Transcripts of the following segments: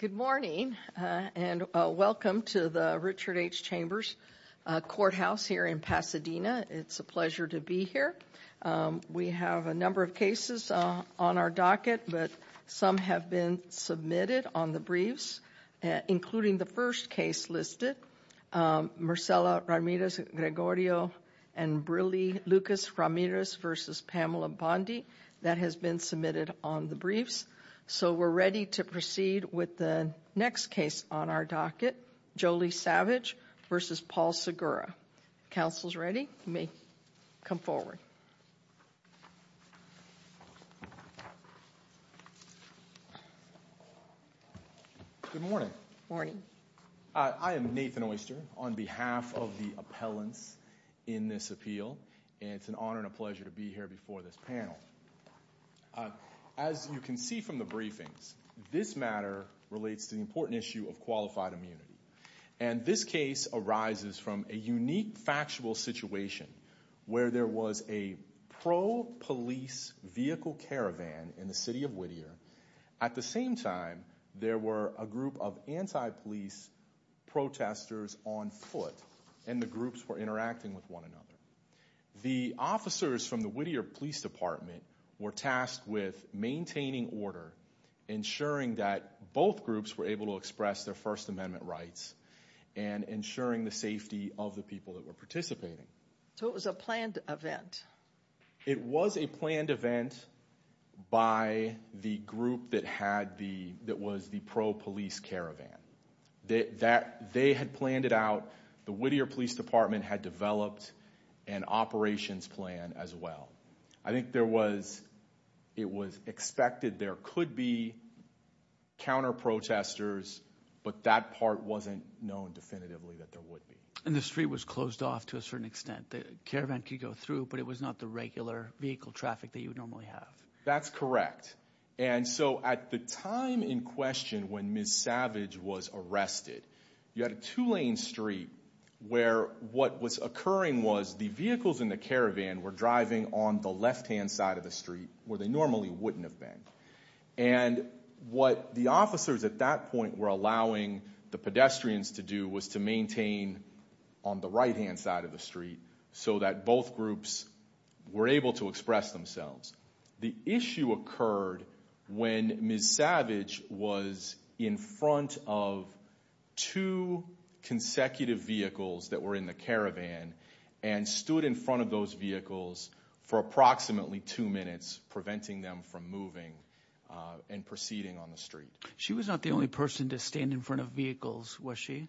Good morning and welcome to the Richard H. Chambers Courthouse here in Pasadena. It's a pleasure to be here. We have a number of cases on our docket, but some have been submitted on the briefs, including the first case listed, Marcela Ramirez Gregorio and Lucas Ramirez v. Pamela Bondi. That has been submitted on the briefs. So we're ready to proceed with the next case on our docket, Jolie Savage v. Paul Segura. Counsel is ready. You may come forward. Good morning. Morning. I am Nathan Oyster on behalf of the appellants in this appeal. It's an honor and a pleasure to be here before this panel. As you can see from the briefings, this matter relates to the important issue of qualified immunity. And this case arises from a unique factual situation where there was a pro-police vehicle caravan in the city of Whittier. At the same time, there were a group of anti-police protesters on foot, and the groups were interacting with one another. The officers from the Whittier Police Department were tasked with maintaining order, ensuring that both groups were able to express their First Amendment rights, and ensuring the safety of the people that were participating. So it was a planned event. It was a planned event by the group that was the pro-police caravan. They had planned it out. The Whittier Police Department had developed an operations plan as well. I think it was expected there could be counter-protesters, but that part wasn't known definitively that there would be. And the street was closed off to a certain extent. The caravan could go through, but it was not the regular vehicle traffic that you would normally have. That's correct. And so at the time in question when Ms. Savage was arrested, you had a two-lane street where what was occurring was the vehicles in the caravan were driving on the left-hand side of the street where they normally wouldn't have been. And what the officers at that point were allowing the pedestrians to do was to maintain on the right-hand side of the street so that both groups were able to express themselves. The issue occurred when Ms. Savage was in front of two consecutive vehicles that were in the caravan and stood in front of those vehicles for approximately two minutes, preventing them from moving and proceeding on the street. She was not the only person to stand in front of vehicles, was she?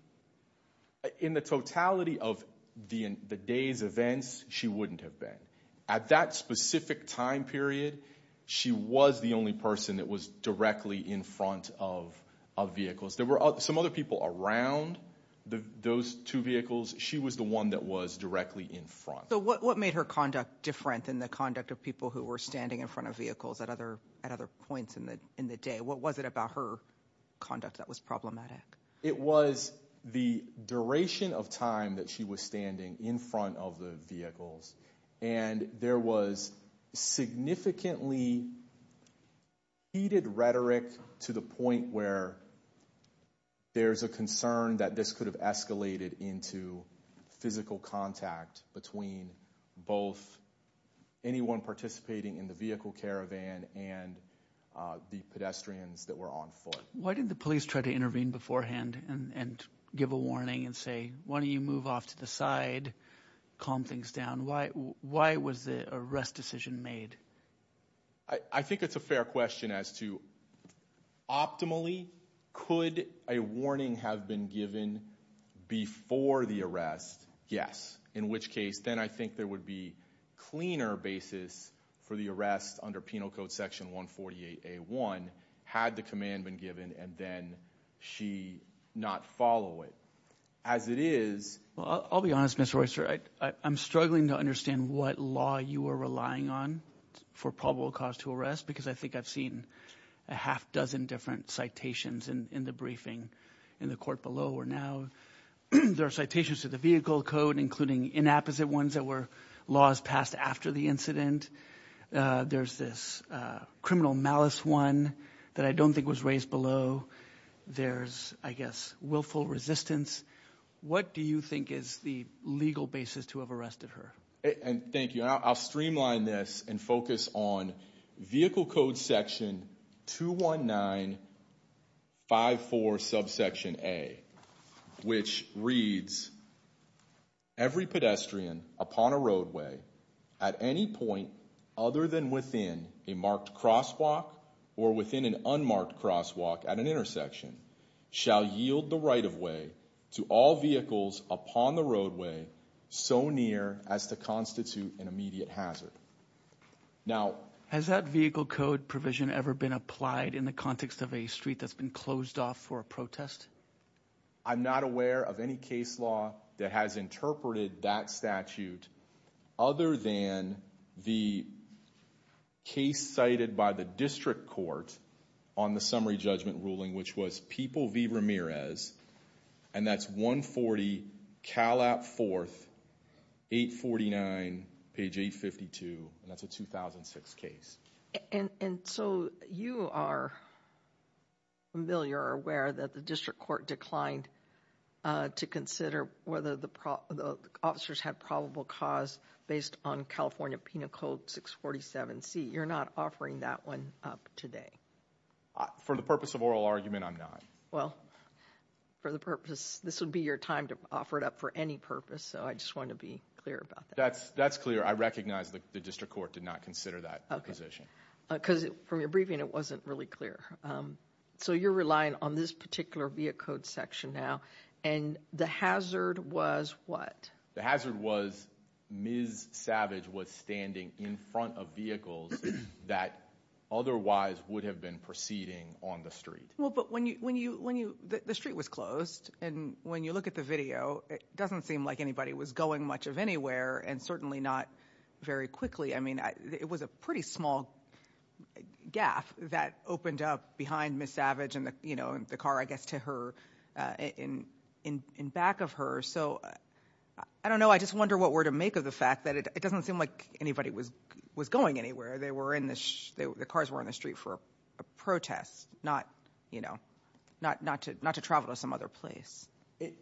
In the totality of the day's events, she wouldn't have been. At that specific time period, she was the only person that was directly in front of vehicles. There were some other people around those two vehicles. She was the one that was directly in front. So what made her conduct different than the conduct of people who were standing in front of vehicles at other points in the day? What was it about her conduct that was problematic? It was the duration of time that she was standing in front of the vehicles and there was significantly heated rhetoric to the point where there's a concern that this could have escalated into physical contact between both anyone participating in the vehicle caravan and the pedestrians that were on foot. Why did the police try to intervene beforehand and give a warning and say, why don't you move off to the side, calm things down? Why was the arrest decision made? I think it's a fair question as to, optimally, could a warning have been given before the arrest? Yes. In which case, then I think there would be cleaner basis for the arrest under Penal Code Section 148A1 had the command been given and then she not follow it. As it is. I'll be honest, Mr. Royster, I'm struggling to understand what law you are relying on for probable cause to arrest because I think I've seen a half dozen different citations in the briefing in the court below where now there are citations to the vehicle code including inapposite ones that were laws passed after the incident. There's this criminal malice one that I don't think was raised below. There's, I guess, willful resistance. What do you think is the legal basis to have arrested her? Thank you. I'll streamline this and focus on Vehicle Code Section 21954 subsection A which reads, every pedestrian upon a roadway at any point other than within a marked crosswalk or within an unmarked crosswalk at an intersection shall yield the right-of-way to all vehicles upon the roadway so near as to constitute an immediate hazard. Now… Has that vehicle code provision ever been applied in the context of a street that's been closed off for a protest? I'm not aware of any case law that has interpreted that statute other than the case cited by the district court on the summary judgment ruling which was People v. Ramirez and that's 140 Calap 4th 849 page 852 and that's a 2006 case. And so you are familiar or aware that the district court declined to consider whether the officers had probable cause based on California Penal Code 647C. You're not offering that one up today. For the purpose of oral argument, I'm not. Well, for the purpose, this would be your time to offer it up for any purpose so I just want to be clear about that. That's clear. I recognize the district court did not consider that position. Because from your briefing, it wasn't really clear. So you're relying on this particular vehicle code section now and the hazard was what? The hazard was Ms. Savage was standing in front of vehicles that otherwise would have been proceeding on the street. Well, but the street was closed and when you look at the video, it doesn't seem like anybody was going much of anywhere and certainly not very quickly. I mean, it was a pretty small gap that opened up behind Ms. Savage and the car, I guess, to her in back of her. So I don't know. I just wonder what we're to make of the fact that it doesn't seem like anybody was going anywhere. The cars were on the street for a protest, not to travel to some other place.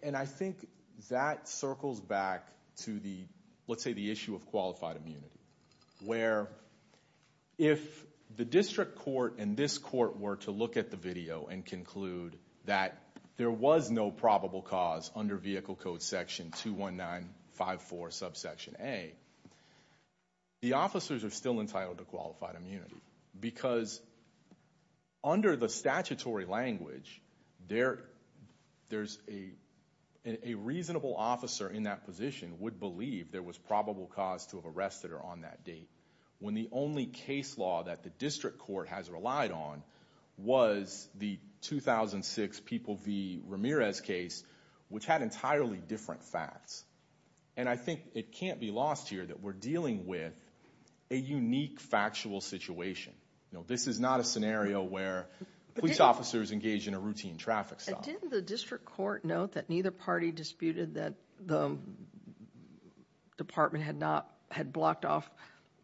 And I think that circles back to the, let's say, the issue of qualified immunity. Where if the district court and this court were to look at the video and conclude that there was no probable cause under vehicle code section 21954 subsection A, the officers are still entitled to qualified immunity. Because under the statutory language, there's a reasonable officer in that position would believe there was probable cause to have arrested her on that date. When the only case law that the district court has relied on was the 2006 People v. Ramirez case, which had entirely different facts. And I think it can't be lost here that we're dealing with a unique factual situation. This is not a scenario where police officers engage in a routine traffic stop. Didn't the district court note that neither party disputed that the department had blocked off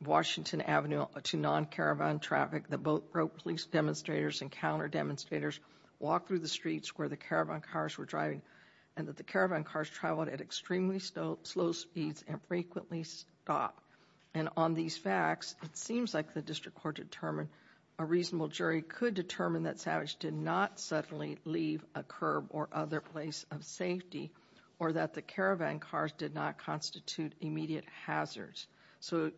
Washington Avenue to non-caravan traffic, that both police demonstrators and counter demonstrators walked through the streets where the caravan cars were driving, and that the caravan cars traveled at extremely slow speeds and frequently stopped? And on these facts, it seems like the district court determined a reasonable jury could determine that Savage did not suddenly leave a curb or other place of safety, or that the caravan cars did not constitute immediate hazards. So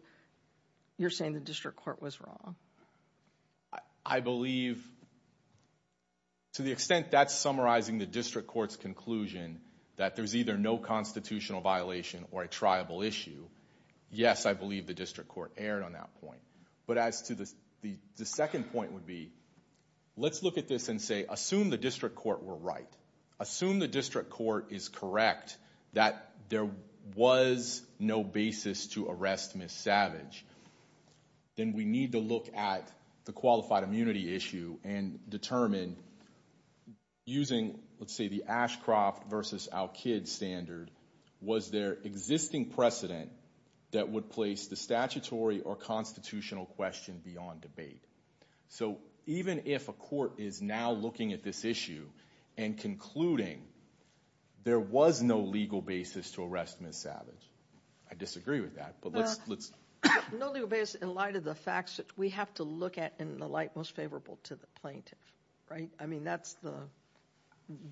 you're saying the district court was wrong? I believe, to the extent that's summarizing the district court's conclusion that there's either no constitutional violation or a triable issue, yes, I believe the district court erred on that point. But as to the second point would be, let's look at this and say, assume the district court were right. Assume the district court is correct that there was no basis to arrest Ms. Savage. Then we need to look at the qualified immunity issue and determine, using, let's say, the Ashcroft versus Al-Kid standard, was there existing precedent that would place the statutory or constitutional question beyond debate? So even if a court is now looking at this issue and concluding there was no legal basis to arrest Ms. Savage, I disagree with that, but let's... No legal basis in light of the facts that we have to look at in the light most favorable to the plaintiff, right? I mean, that's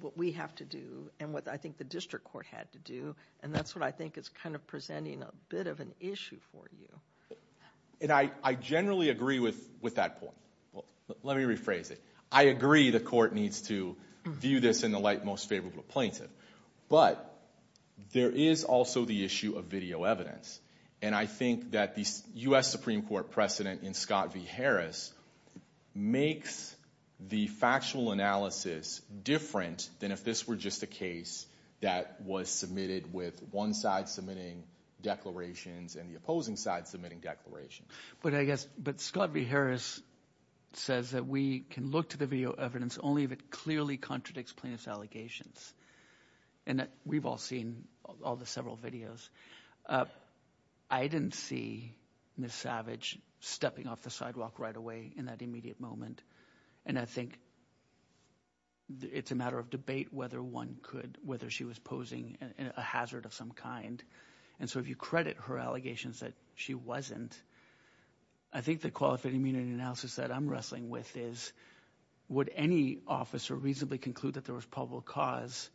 what we have to do and what I think the district court had to do, and that's what I think is kind of presenting a bit of an issue for you. And I generally agree with that point. Let me rephrase it. I agree the court needs to view this in the light most favorable plaintiff, but there is also the issue of video evidence, and I think that the U.S. Supreme Court precedent in Scott v. Harris makes the factual analysis different than if this were just a case that was submitted with one side submitting declarations and the opposing side submitting declarations. But I guess Scott v. Harris says that we can look to the video evidence only if it clearly contradicts plaintiff's allegations, and we've all seen all the several videos. I didn't see Ms. Savage stepping off the sidewalk right away in that immediate moment, and I think it's a matter of debate whether one could, whether she was posing a hazard of some kind. And so if you credit her allegations that she wasn't, I think the qualified immunity analysis that I'm wrestling with is would any officer reasonably conclude that there was probable cause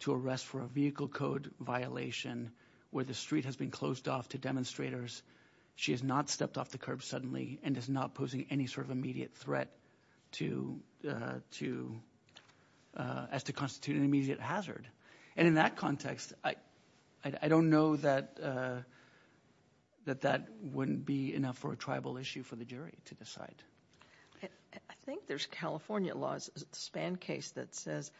to arrest for a vehicle code violation where the street has been closed off to demonstrators, she has not stepped off the curb suddenly, and is not posing any sort of immediate threat as to constitute an immediate hazard. And in that context, I don't know that that wouldn't be enough for a tribal issue for the jury to decide. I think there's California law's SPAN case that says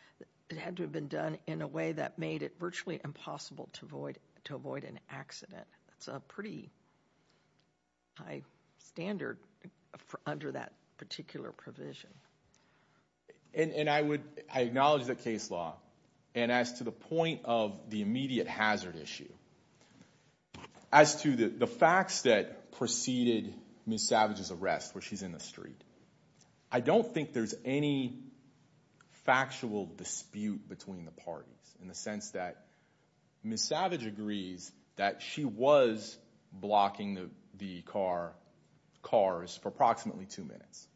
it had to have been done in a way that made it virtually impossible to avoid an accident. That's a pretty high standard under that particular provision. And I acknowledge that case law, and as to the point of the immediate hazard issue, as to the facts that preceded Ms. Savage's arrest where she's in the street, I don't think there's any factual dispute between the parties in the sense that Ms. Savage agrees that she was blocking the cars for approximately two minutes.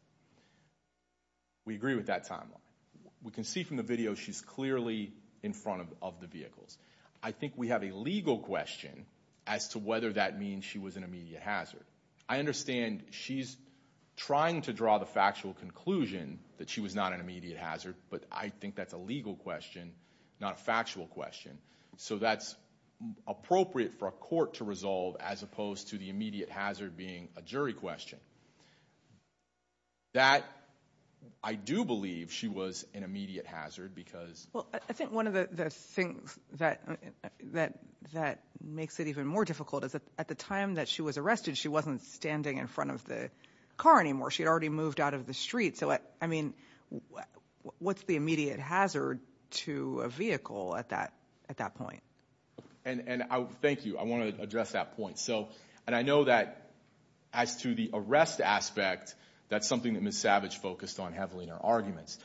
We agree with that timeline. We can see from the video she's clearly in front of the vehicles. I think we have a legal question as to whether that means she was an immediate hazard. I understand she's trying to draw the factual conclusion that she was not an immediate hazard, but I think that's a legal question, not a factual question. So that's appropriate for a court to resolve as opposed to the immediate hazard being a jury question. That I do believe she was an immediate hazard because Well, I think one of the things that makes it even more difficult is that at the time that she was arrested, she wasn't standing in front of the car anymore. She had already moved out of the street. So, I mean, what's the immediate hazard to a vehicle at that point? And thank you. I want to address that point. And I know that as to the arrest aspect, that's something that Ms. Savage focused on heavily in her arguments.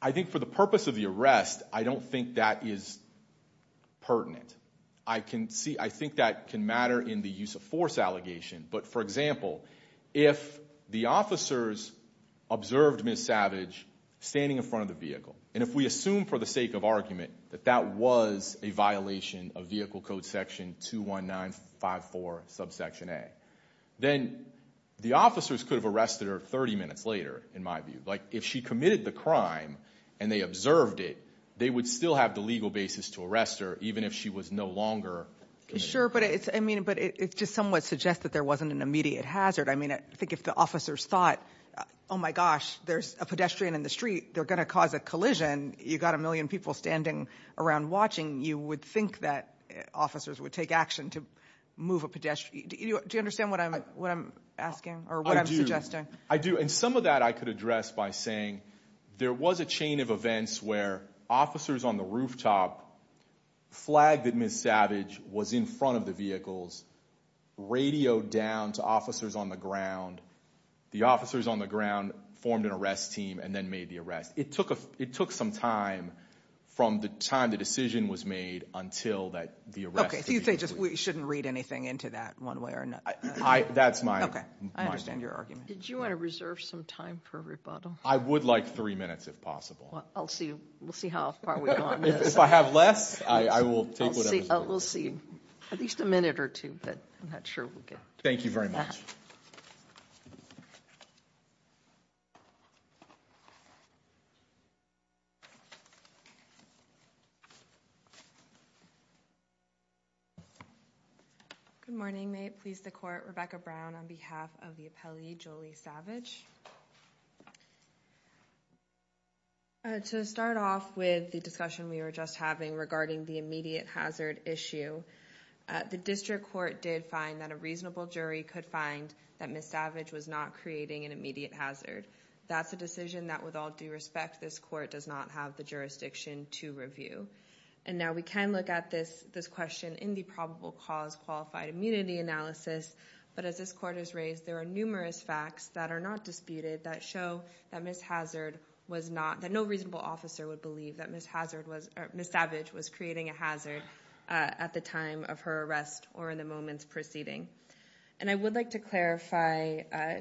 I think for the purpose of the arrest, I don't think that is pertinent. I think that can matter in the use of force allegation. But, for example, if the officers observed Ms. Savage standing in front of the vehicle, and if we assume for the sake of argument that that was a violation of Vehicle Code Section 21954, Subsection A, then the officers could have arrested her 30 minutes later, in my view. Like, if she committed the crime and they observed it, they would still have the legal basis to arrest her, even if she was no longer committed. Sure, but it just somewhat suggests that there wasn't an immediate hazard. I mean, I think if the officers thought, oh, my gosh, there's a pedestrian in the street, they're going to cause a collision, you've got a million people standing around watching, you would think that officers would take action to move a pedestrian. Do you understand what I'm asking or what I'm suggesting? I do. And some of that I could address by saying there was a chain of events where officers on the rooftop flagged that Ms. Savage was in front of the vehicles, radioed down to officers on the ground. The officers on the ground formed an arrest team and then made the arrest. It took some time from the time the decision was made until the arrest was made. Okay, so you say we shouldn't read anything into that one way or another? That's my argument. Okay, I understand your argument. Did you want to reserve some time for rebuttal? I would like three minutes, if possible. We'll see how far we've gone. If I have less, I will take whatever's left. We'll see. At least a minute or two, but I'm not sure we'll get to that. Thank you very much. Good morning. May it please the Court, Rebecca Brown on behalf of the appellee, Jolie Savage. To start off with the discussion we were just having regarding the immediate hazard issue, the District Court did find that a reasonable jury could find that Ms. Savage was not creating an immediate hazard. That's a decision that, with all due respect, this Court does not have the jurisdiction to review. And now we can look at this question in the probable cause qualified immunity analysis, but as this Court has raised, there are numerous facts that are not disputed that show that Ms. Hazard was not, or in the moments preceding. And I would like to clarify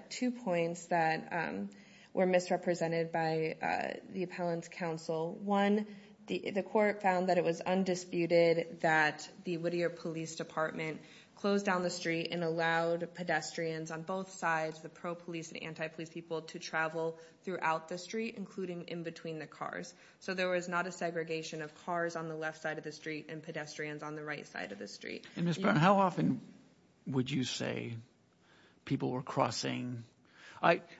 two points that were misrepresented by the appellant's counsel. One, the Court found that it was undisputed that the Whittier Police Department closed down the street and allowed pedestrians on both sides, the pro-police and anti-police people, to travel throughout the street, including in between the cars. So there was not a segregation of cars on the left side of the street and pedestrians on the right side of the street. And Ms. Brown, how often would you say people were crossing?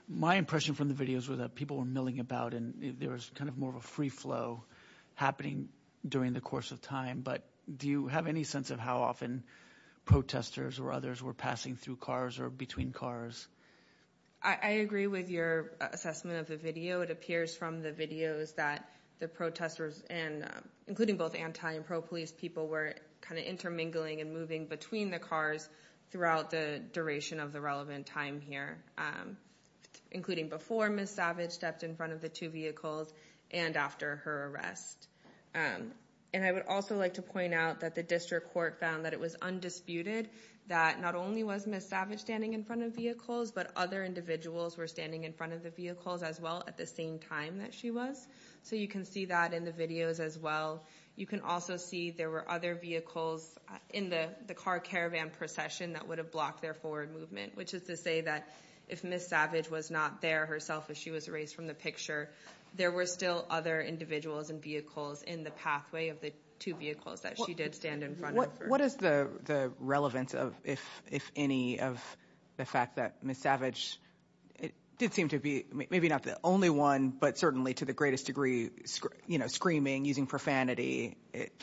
My impression from the videos was that people were milling about and there was kind of more of a free flow happening during the course of time. But do you have any sense of how often protesters or others were passing through cars or between cars? I agree with your assessment of the video. It appears from the videos that the protesters, including both anti- and pro-police people, were kind of intermingling and moving between the cars throughout the duration of the relevant time here, including before Ms. Savage stepped in front of the two vehicles and after her arrest. And I would also like to point out that the District Court found that it was undisputed that not only was Ms. Savage standing in front of vehicles, but other individuals were standing in front of the vehicles as well at the same time that she was. So you can see that in the videos as well. You can also see there were other vehicles in the car caravan procession that would have blocked their forward movement, which is to say that if Ms. Savage was not there herself, if she was erased from the picture, there were still other individuals and vehicles in the pathway of the two vehicles that she did stand in front of. What is the relevance, if any, of the fact that Ms. Savage did seem to be maybe not the only one, but certainly to the greatest degree, you know, screaming, using profanity,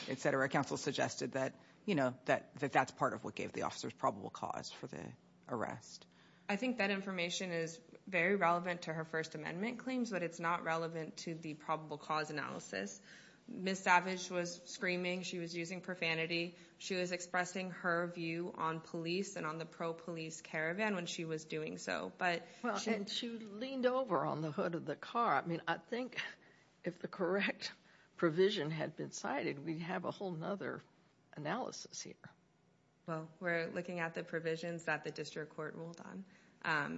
etc.? Counsel suggested that, you know, that that's part of what gave the officers probable cause for the arrest. I think that information is very relevant to her First Amendment claims, but it's not relevant to the probable cause analysis. Ms. Savage was screaming. She was using profanity. She was expressing her view on police and on the pro-police caravan when she was doing so. And she leaned over on the hood of the car. I mean, I think if the correct provision had been cited, we'd have a whole other analysis here. Well, we're looking at the provisions that the district court ruled on.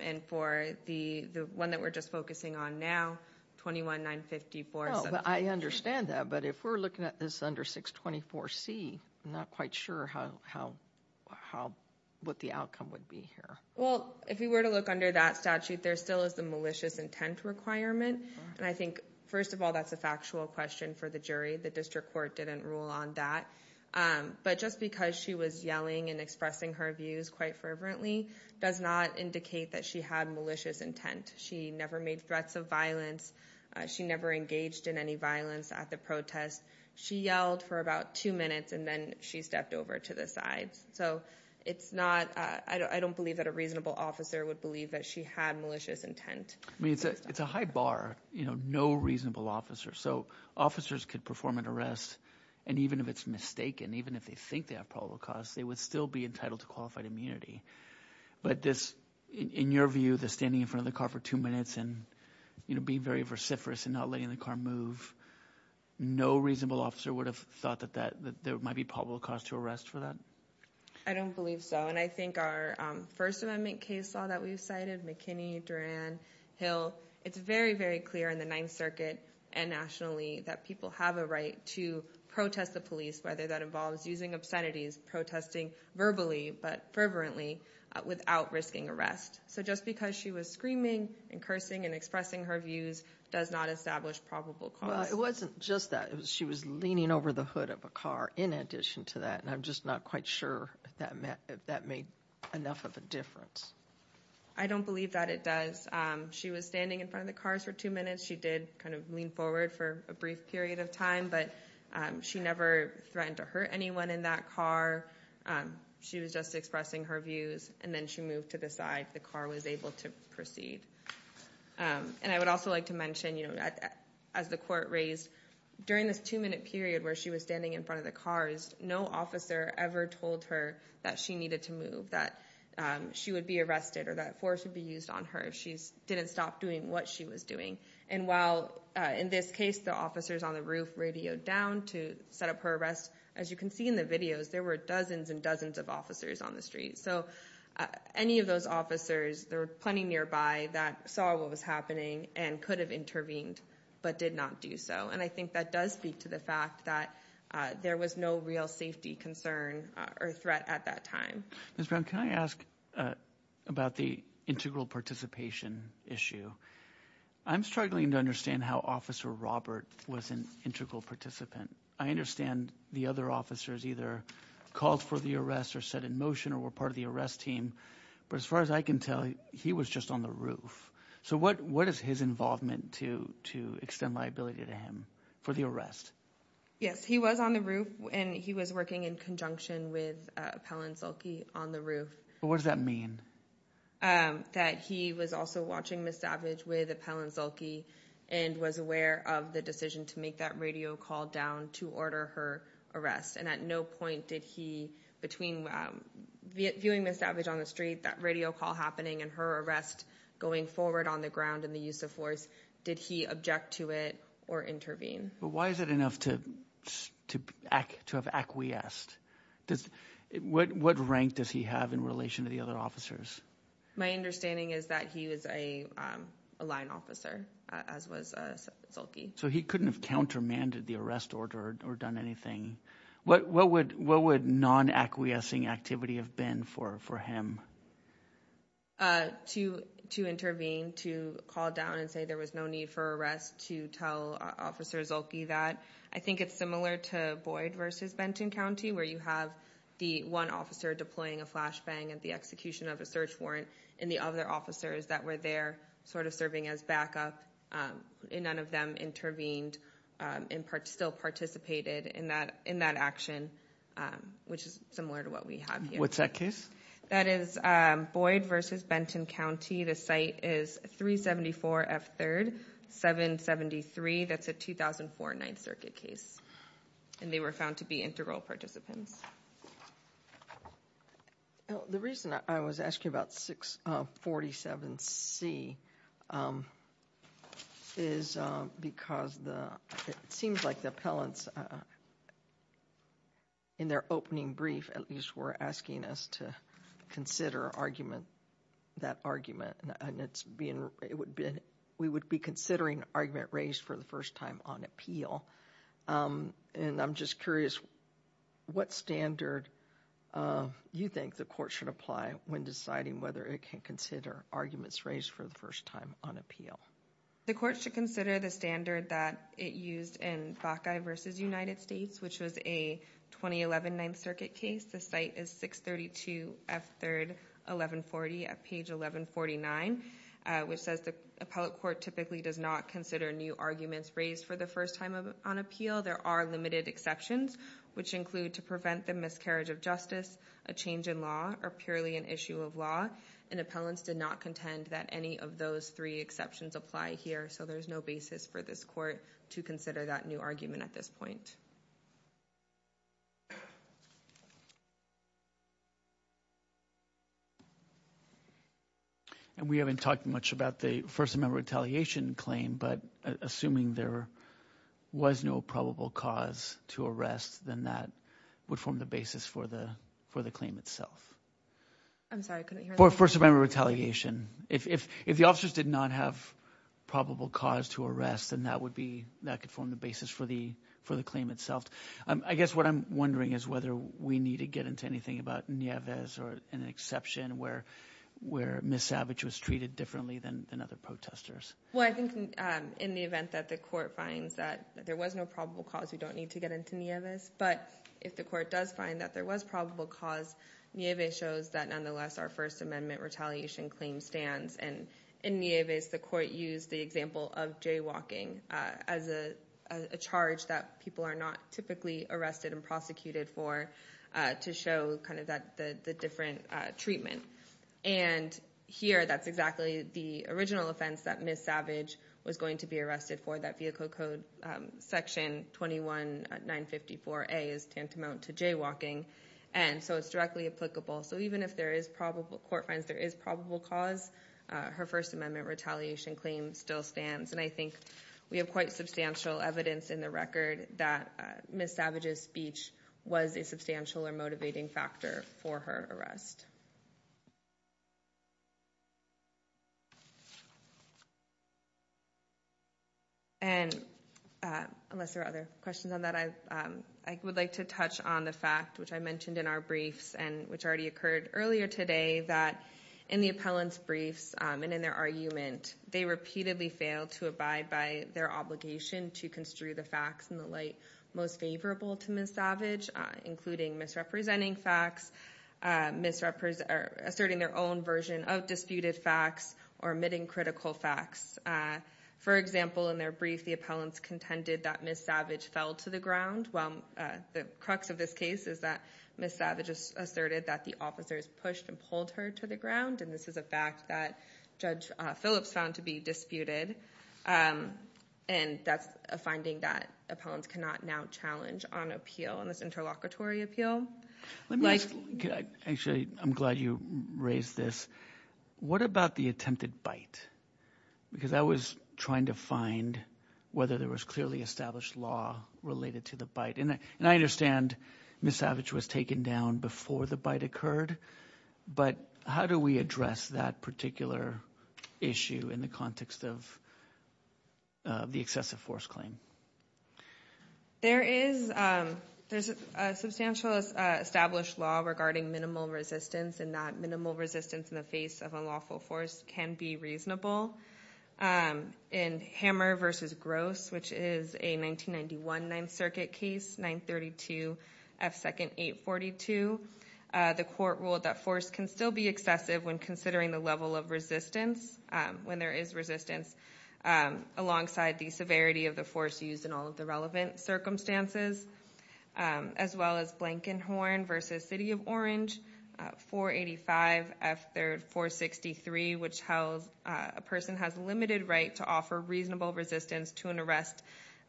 And for the one that we're just focusing on now, 21-954. I understand that. But if we're looking at this under 624C, I'm not quite sure what the outcome would be here. Well, if we were to look under that statute, there still is the malicious intent requirement. And I think, first of all, that's a factual question for the jury. The district court didn't rule on that. But just because she was yelling and expressing her views quite fervently does not indicate that she had malicious intent. She never made threats of violence. She never engaged in any violence at the protest. She yelled for about two minutes, and then she stepped over to the sides. So it's not – I don't believe that a reasonable officer would believe that she had malicious intent. I mean, it's a high bar, no reasonable officer. So officers could perform an arrest, and even if it's mistaken, even if they think they have probable cause, they would still be entitled to qualified immunity. But this – in your view, the standing in front of the car for two minutes and being very vociferous and not letting the car move, no reasonable officer would have thought that there might be probable cause to arrest for that? I don't believe so. And I think our First Amendment case law that we've cited, McKinney, Duran, Hill, it's very, very clear in the Ninth Circuit and nationally that people have a right to protest the police, whether that involves using obscenities, protesting verbally but fervently without risking arrest. So just because she was screaming and cursing and expressing her views does not establish probable cause. Well, it wasn't just that. She was leaning over the hood of a car in addition to that, and I'm just not quite sure if that made enough of a difference. I don't believe that it does. She was standing in front of the cars for two minutes. She did kind of lean forward for a brief period of time, but she never threatened to hurt anyone in that car. She was just expressing her views, and then she moved to the side. The car was able to proceed. And I would also like to mention, you know, as the court raised, during this two-minute period where she was standing in front of the cars, no officer ever told her that she needed to move, that she would be arrested or that force would be used on her if she didn't stop doing what she was doing. And while in this case the officers on the roof radioed down to set up her arrest, as you can see in the videos, there were dozens and dozens of officers on the street. So any of those officers, there were plenty nearby that saw what was happening and could have intervened but did not do so. And I think that does speak to the fact that there was no real safety concern or threat at that time. Ms. Brown, can I ask about the integral participation issue? I'm struggling to understand how Officer Robert was an integral participant. I understand the other officers either called for the arrest or said in motion or were part of the arrest team. But as far as I can tell, he was just on the roof. So what is his involvement to extend liability to him for the arrest? Yes, he was on the roof and he was working in conjunction with Appellant Zulke on the roof. What does that mean? That he was also watching Ms. Savage with Appellant Zulke and was aware of the decision to make that radio call down to order her arrest. And at no point did he, between viewing Ms. Savage on the street, that radio call happening, and her arrest going forward on the ground and the use of force, did he object to it or intervene? But why is it enough to have acquiesced? What rank does he have in relation to the other officers? My understanding is that he was a line officer, as was Zulke. So he couldn't have countermanded the arrest order or done anything. What would non-acquiescing activity have been for him? To intervene, to call down and say there was no need for arrest, to tell Officer Zulke that. I think it's similar to Boyd v. Benton County, where you have the one officer deploying a flashbang at the execution of a search warrant, and the other officers that were there sort of serving as backup, and none of them intervened and still participated in that action, which is similar to what we have here. What's that case? That is Boyd v. Benton County. The site is 374F3rd, 773. That's a 2004 Ninth Circuit case, and they were found to be integral participants. The reason I was asking about 647C is because it seems like the appellants, in their opening brief, at least were asking us to consider that argument, and we would be considering an argument raised for the first time on appeal. And I'm just curious, what standard you think the court should apply when deciding whether it can consider arguments raised for the first time on appeal? The court should consider the standard that it used in Backe v. United States, which was a 2011 Ninth Circuit case. The site is 632F3rd, 1140 at page 1149, which says the appellate court typically does not consider new arguments raised for the first time on appeal. There are limited exceptions, which include to prevent the miscarriage of justice, a change in law, or purely an issue of law. And appellants did not contend that any of those three exceptions apply here, so there's no basis for this court to consider that new argument at this point. And we haven't talked much about the First Amendment retaliation claim, but assuming there was no probable cause to arrest, then that would form the basis for the claim itself. I'm sorry, I couldn't hear that. First Amendment retaliation. If the officers did not have probable cause to arrest, then that could form the basis for the claim itself. I guess what I'm wondering is whether we need to get into anything about Nieves or an exception where Ms. Savage was treated differently than other protesters. Well, I think in the event that the court finds that there was no probable cause, we don't need to get into Nieves. But if the court does find that there was probable cause, Nieves shows that, nonetheless, our First Amendment retaliation claim stands. And in Nieves, the court used the example of jaywalking as a charge that people are not typically arrested and prosecuted for to show the different treatment. And here, that's exactly the original offense that Ms. Savage was going to be arrested for, that Vehicle Code Section 21954A is tantamount to jaywalking. And so it's directly applicable. So even if the court finds there is probable cause, her First Amendment retaliation claim still stands. And I think we have quite substantial evidence in the record that Ms. Savage's speech was a substantial or motivating factor for her arrest. And unless there are other questions on that, I would like to touch on the fact, which I mentioned in our briefs and which already occurred earlier today, that in the appellant's briefs and in their argument, they repeatedly failed to abide by their obligation to construe the facts in the light most favorable to Ms. Savage, including misrepresenting facts, asserting their own version of disputed facts, or omitting critical facts. For example, in their brief, the appellants contended that Ms. Savage fell to the ground. Well, the crux of this case is that Ms. Savage asserted that the officers pushed and pulled her to the ground, and this is a fact that Judge Phillips found to be disputed. And that's a finding that appellants cannot now challenge on appeal, on this interlocutory appeal. Let me ask, actually, I'm glad you raised this. What about the attempted bite? Because I was trying to find whether there was clearly established law related to the bite. And I understand Ms. Savage was taken down before the bite occurred, but how do we address that particular issue in the context of the excessive force claim? There is a substantial established law regarding minimal resistance and not minimal resistance in the face of unlawful force can be reasonable. In Hammer v. Gross, which is a 1991 Ninth Circuit case, 932 F. 2nd 842, the court ruled that force can still be excessive when considering the level of resistance, when there is resistance, alongside the severity of the force used in all of the relevant circumstances, as well as Blankenhorn v. City of Orange, 485 F. 3rd 463, which tells a person has limited right to offer reasonable resistance to an arrest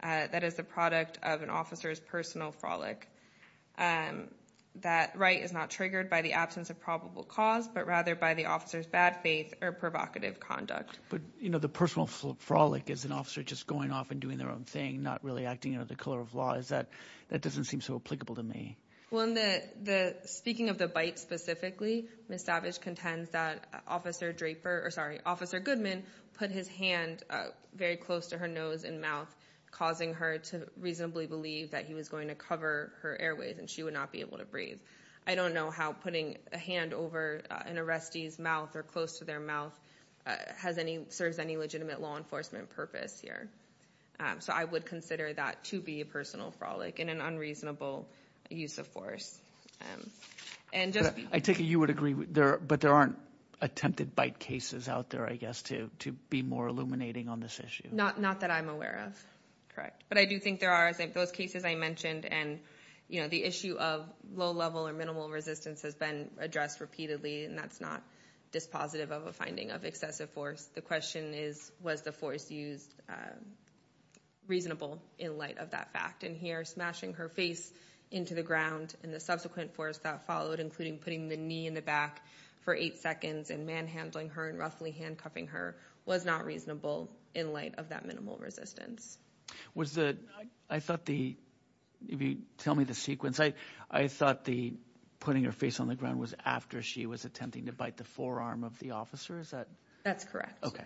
that is the product of an officer's personal frolic. That right is not triggered by the absence of probable cause, but rather by the officer's bad faith or provocative conduct. But the personal frolic is an officer just going off and doing their own thing, not really acting out of the color of law. That doesn't seem so applicable to me. Speaking of the bite specifically, Ms. Savage contends that Officer Goodman put his hand very close to her nose and mouth, causing her to reasonably believe that he was going to cover her airways and she would not be able to breathe. I don't know how putting a hand over an arrestee's mouth or close to their mouth serves any legitimate law enforcement purpose here. So I would consider that to be a personal frolic and an unreasonable use of force. I take it you would agree, but there aren't attempted bite cases out there, I guess, to be more illuminating on this issue? Not that I'm aware of. Correct. But I do think there are. Those cases I mentioned and the issue of low-level or minimal resistance has been addressed repeatedly, and that's not dispositive of a finding of excessive force. The question is, was the force used reasonable in light of that fact? And here, smashing her face into the ground and the subsequent force that followed, including putting the knee in the back for eight seconds and manhandling her and roughly handcuffing her, was not reasonable in light of that minimal resistance. Tell me the sequence. I thought putting her face on the ground was after she was attempting to bite the forearm of the officer? That's correct. Okay.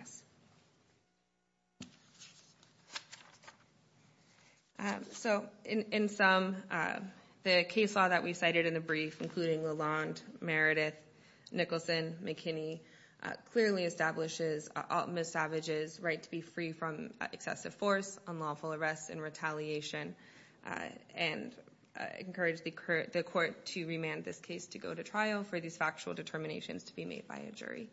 So in sum, the case law that we cited in the brief, including Lalonde, Meredith, Nicholson, McKinney, clearly establishes Ms. Savage's right to be free from excessive force, unlawful arrest, and retaliation, and I encourage the court to remand this case to go to trial for these factual determinations to be made by a jury.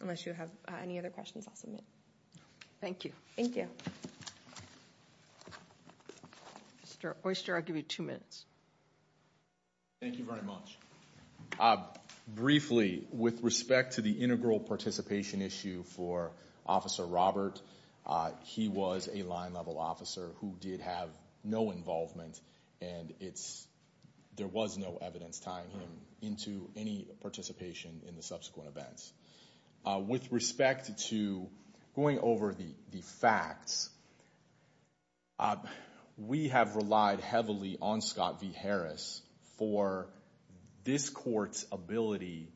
Unless you have any other questions, I'll submit. Thank you. Thank you. Mr. Oyster, I'll give you two minutes. Thank you very much. Briefly, with respect to the integral participation issue for Officer Robert, he was a line-level officer who did have no involvement, and there was no evidence tying him into any participation in the subsequent events. With respect to going over the facts, we have relied heavily on Scott V. Harris for this court's ability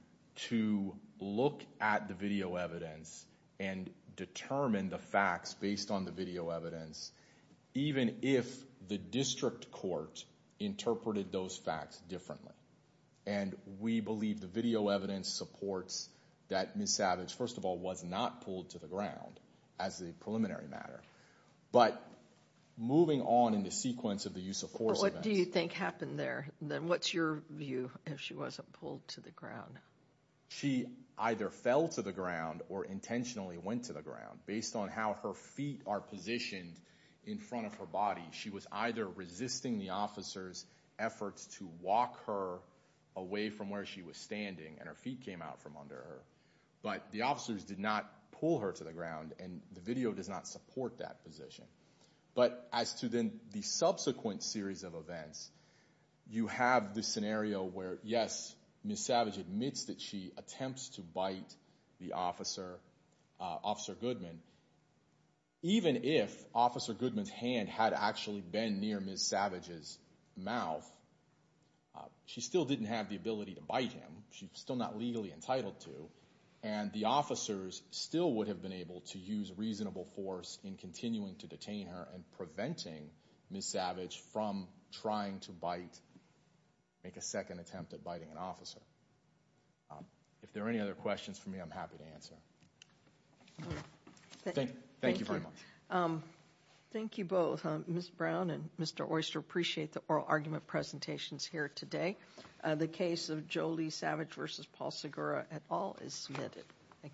to look at the video evidence and determine the facts based on the video evidence, even if the district court interpreted those facts differently. And we believe the video evidence supports that Ms. Savage, first of all, was not pulled to the ground as a preliminary matter. But moving on in the sequence of the use of force events... What do you think happened there? What's your view if she wasn't pulled to the ground? She either fell to the ground or intentionally went to the ground. Based on how her feet are positioned in front of her body, she was either resisting the officer's efforts to walk her away from where she was standing, and her feet came out from under her. But the officers did not pull her to the ground, and the video does not support that position. But as to then the subsequent series of events, you have the scenario where, yes, Ms. Savage admits that she attempts to bite Officer Goodman. Even if Officer Goodman's hand had actually been near Ms. Savage's mouth, she still didn't have the ability to bite him. She's still not legally entitled to. And the officers still would have been able to use reasonable force in continuing to detain her and preventing Ms. Savage from trying to bite, make a second attempt at biting an officer. If there are any other questions for me, I'm happy to answer. Thank you very much. Thank you both. Ms. Brown and Mr. Oyster, I appreciate the oral argument presentations here today. The case of Joe Lee Savage v. Paul Segura et al. is submitted.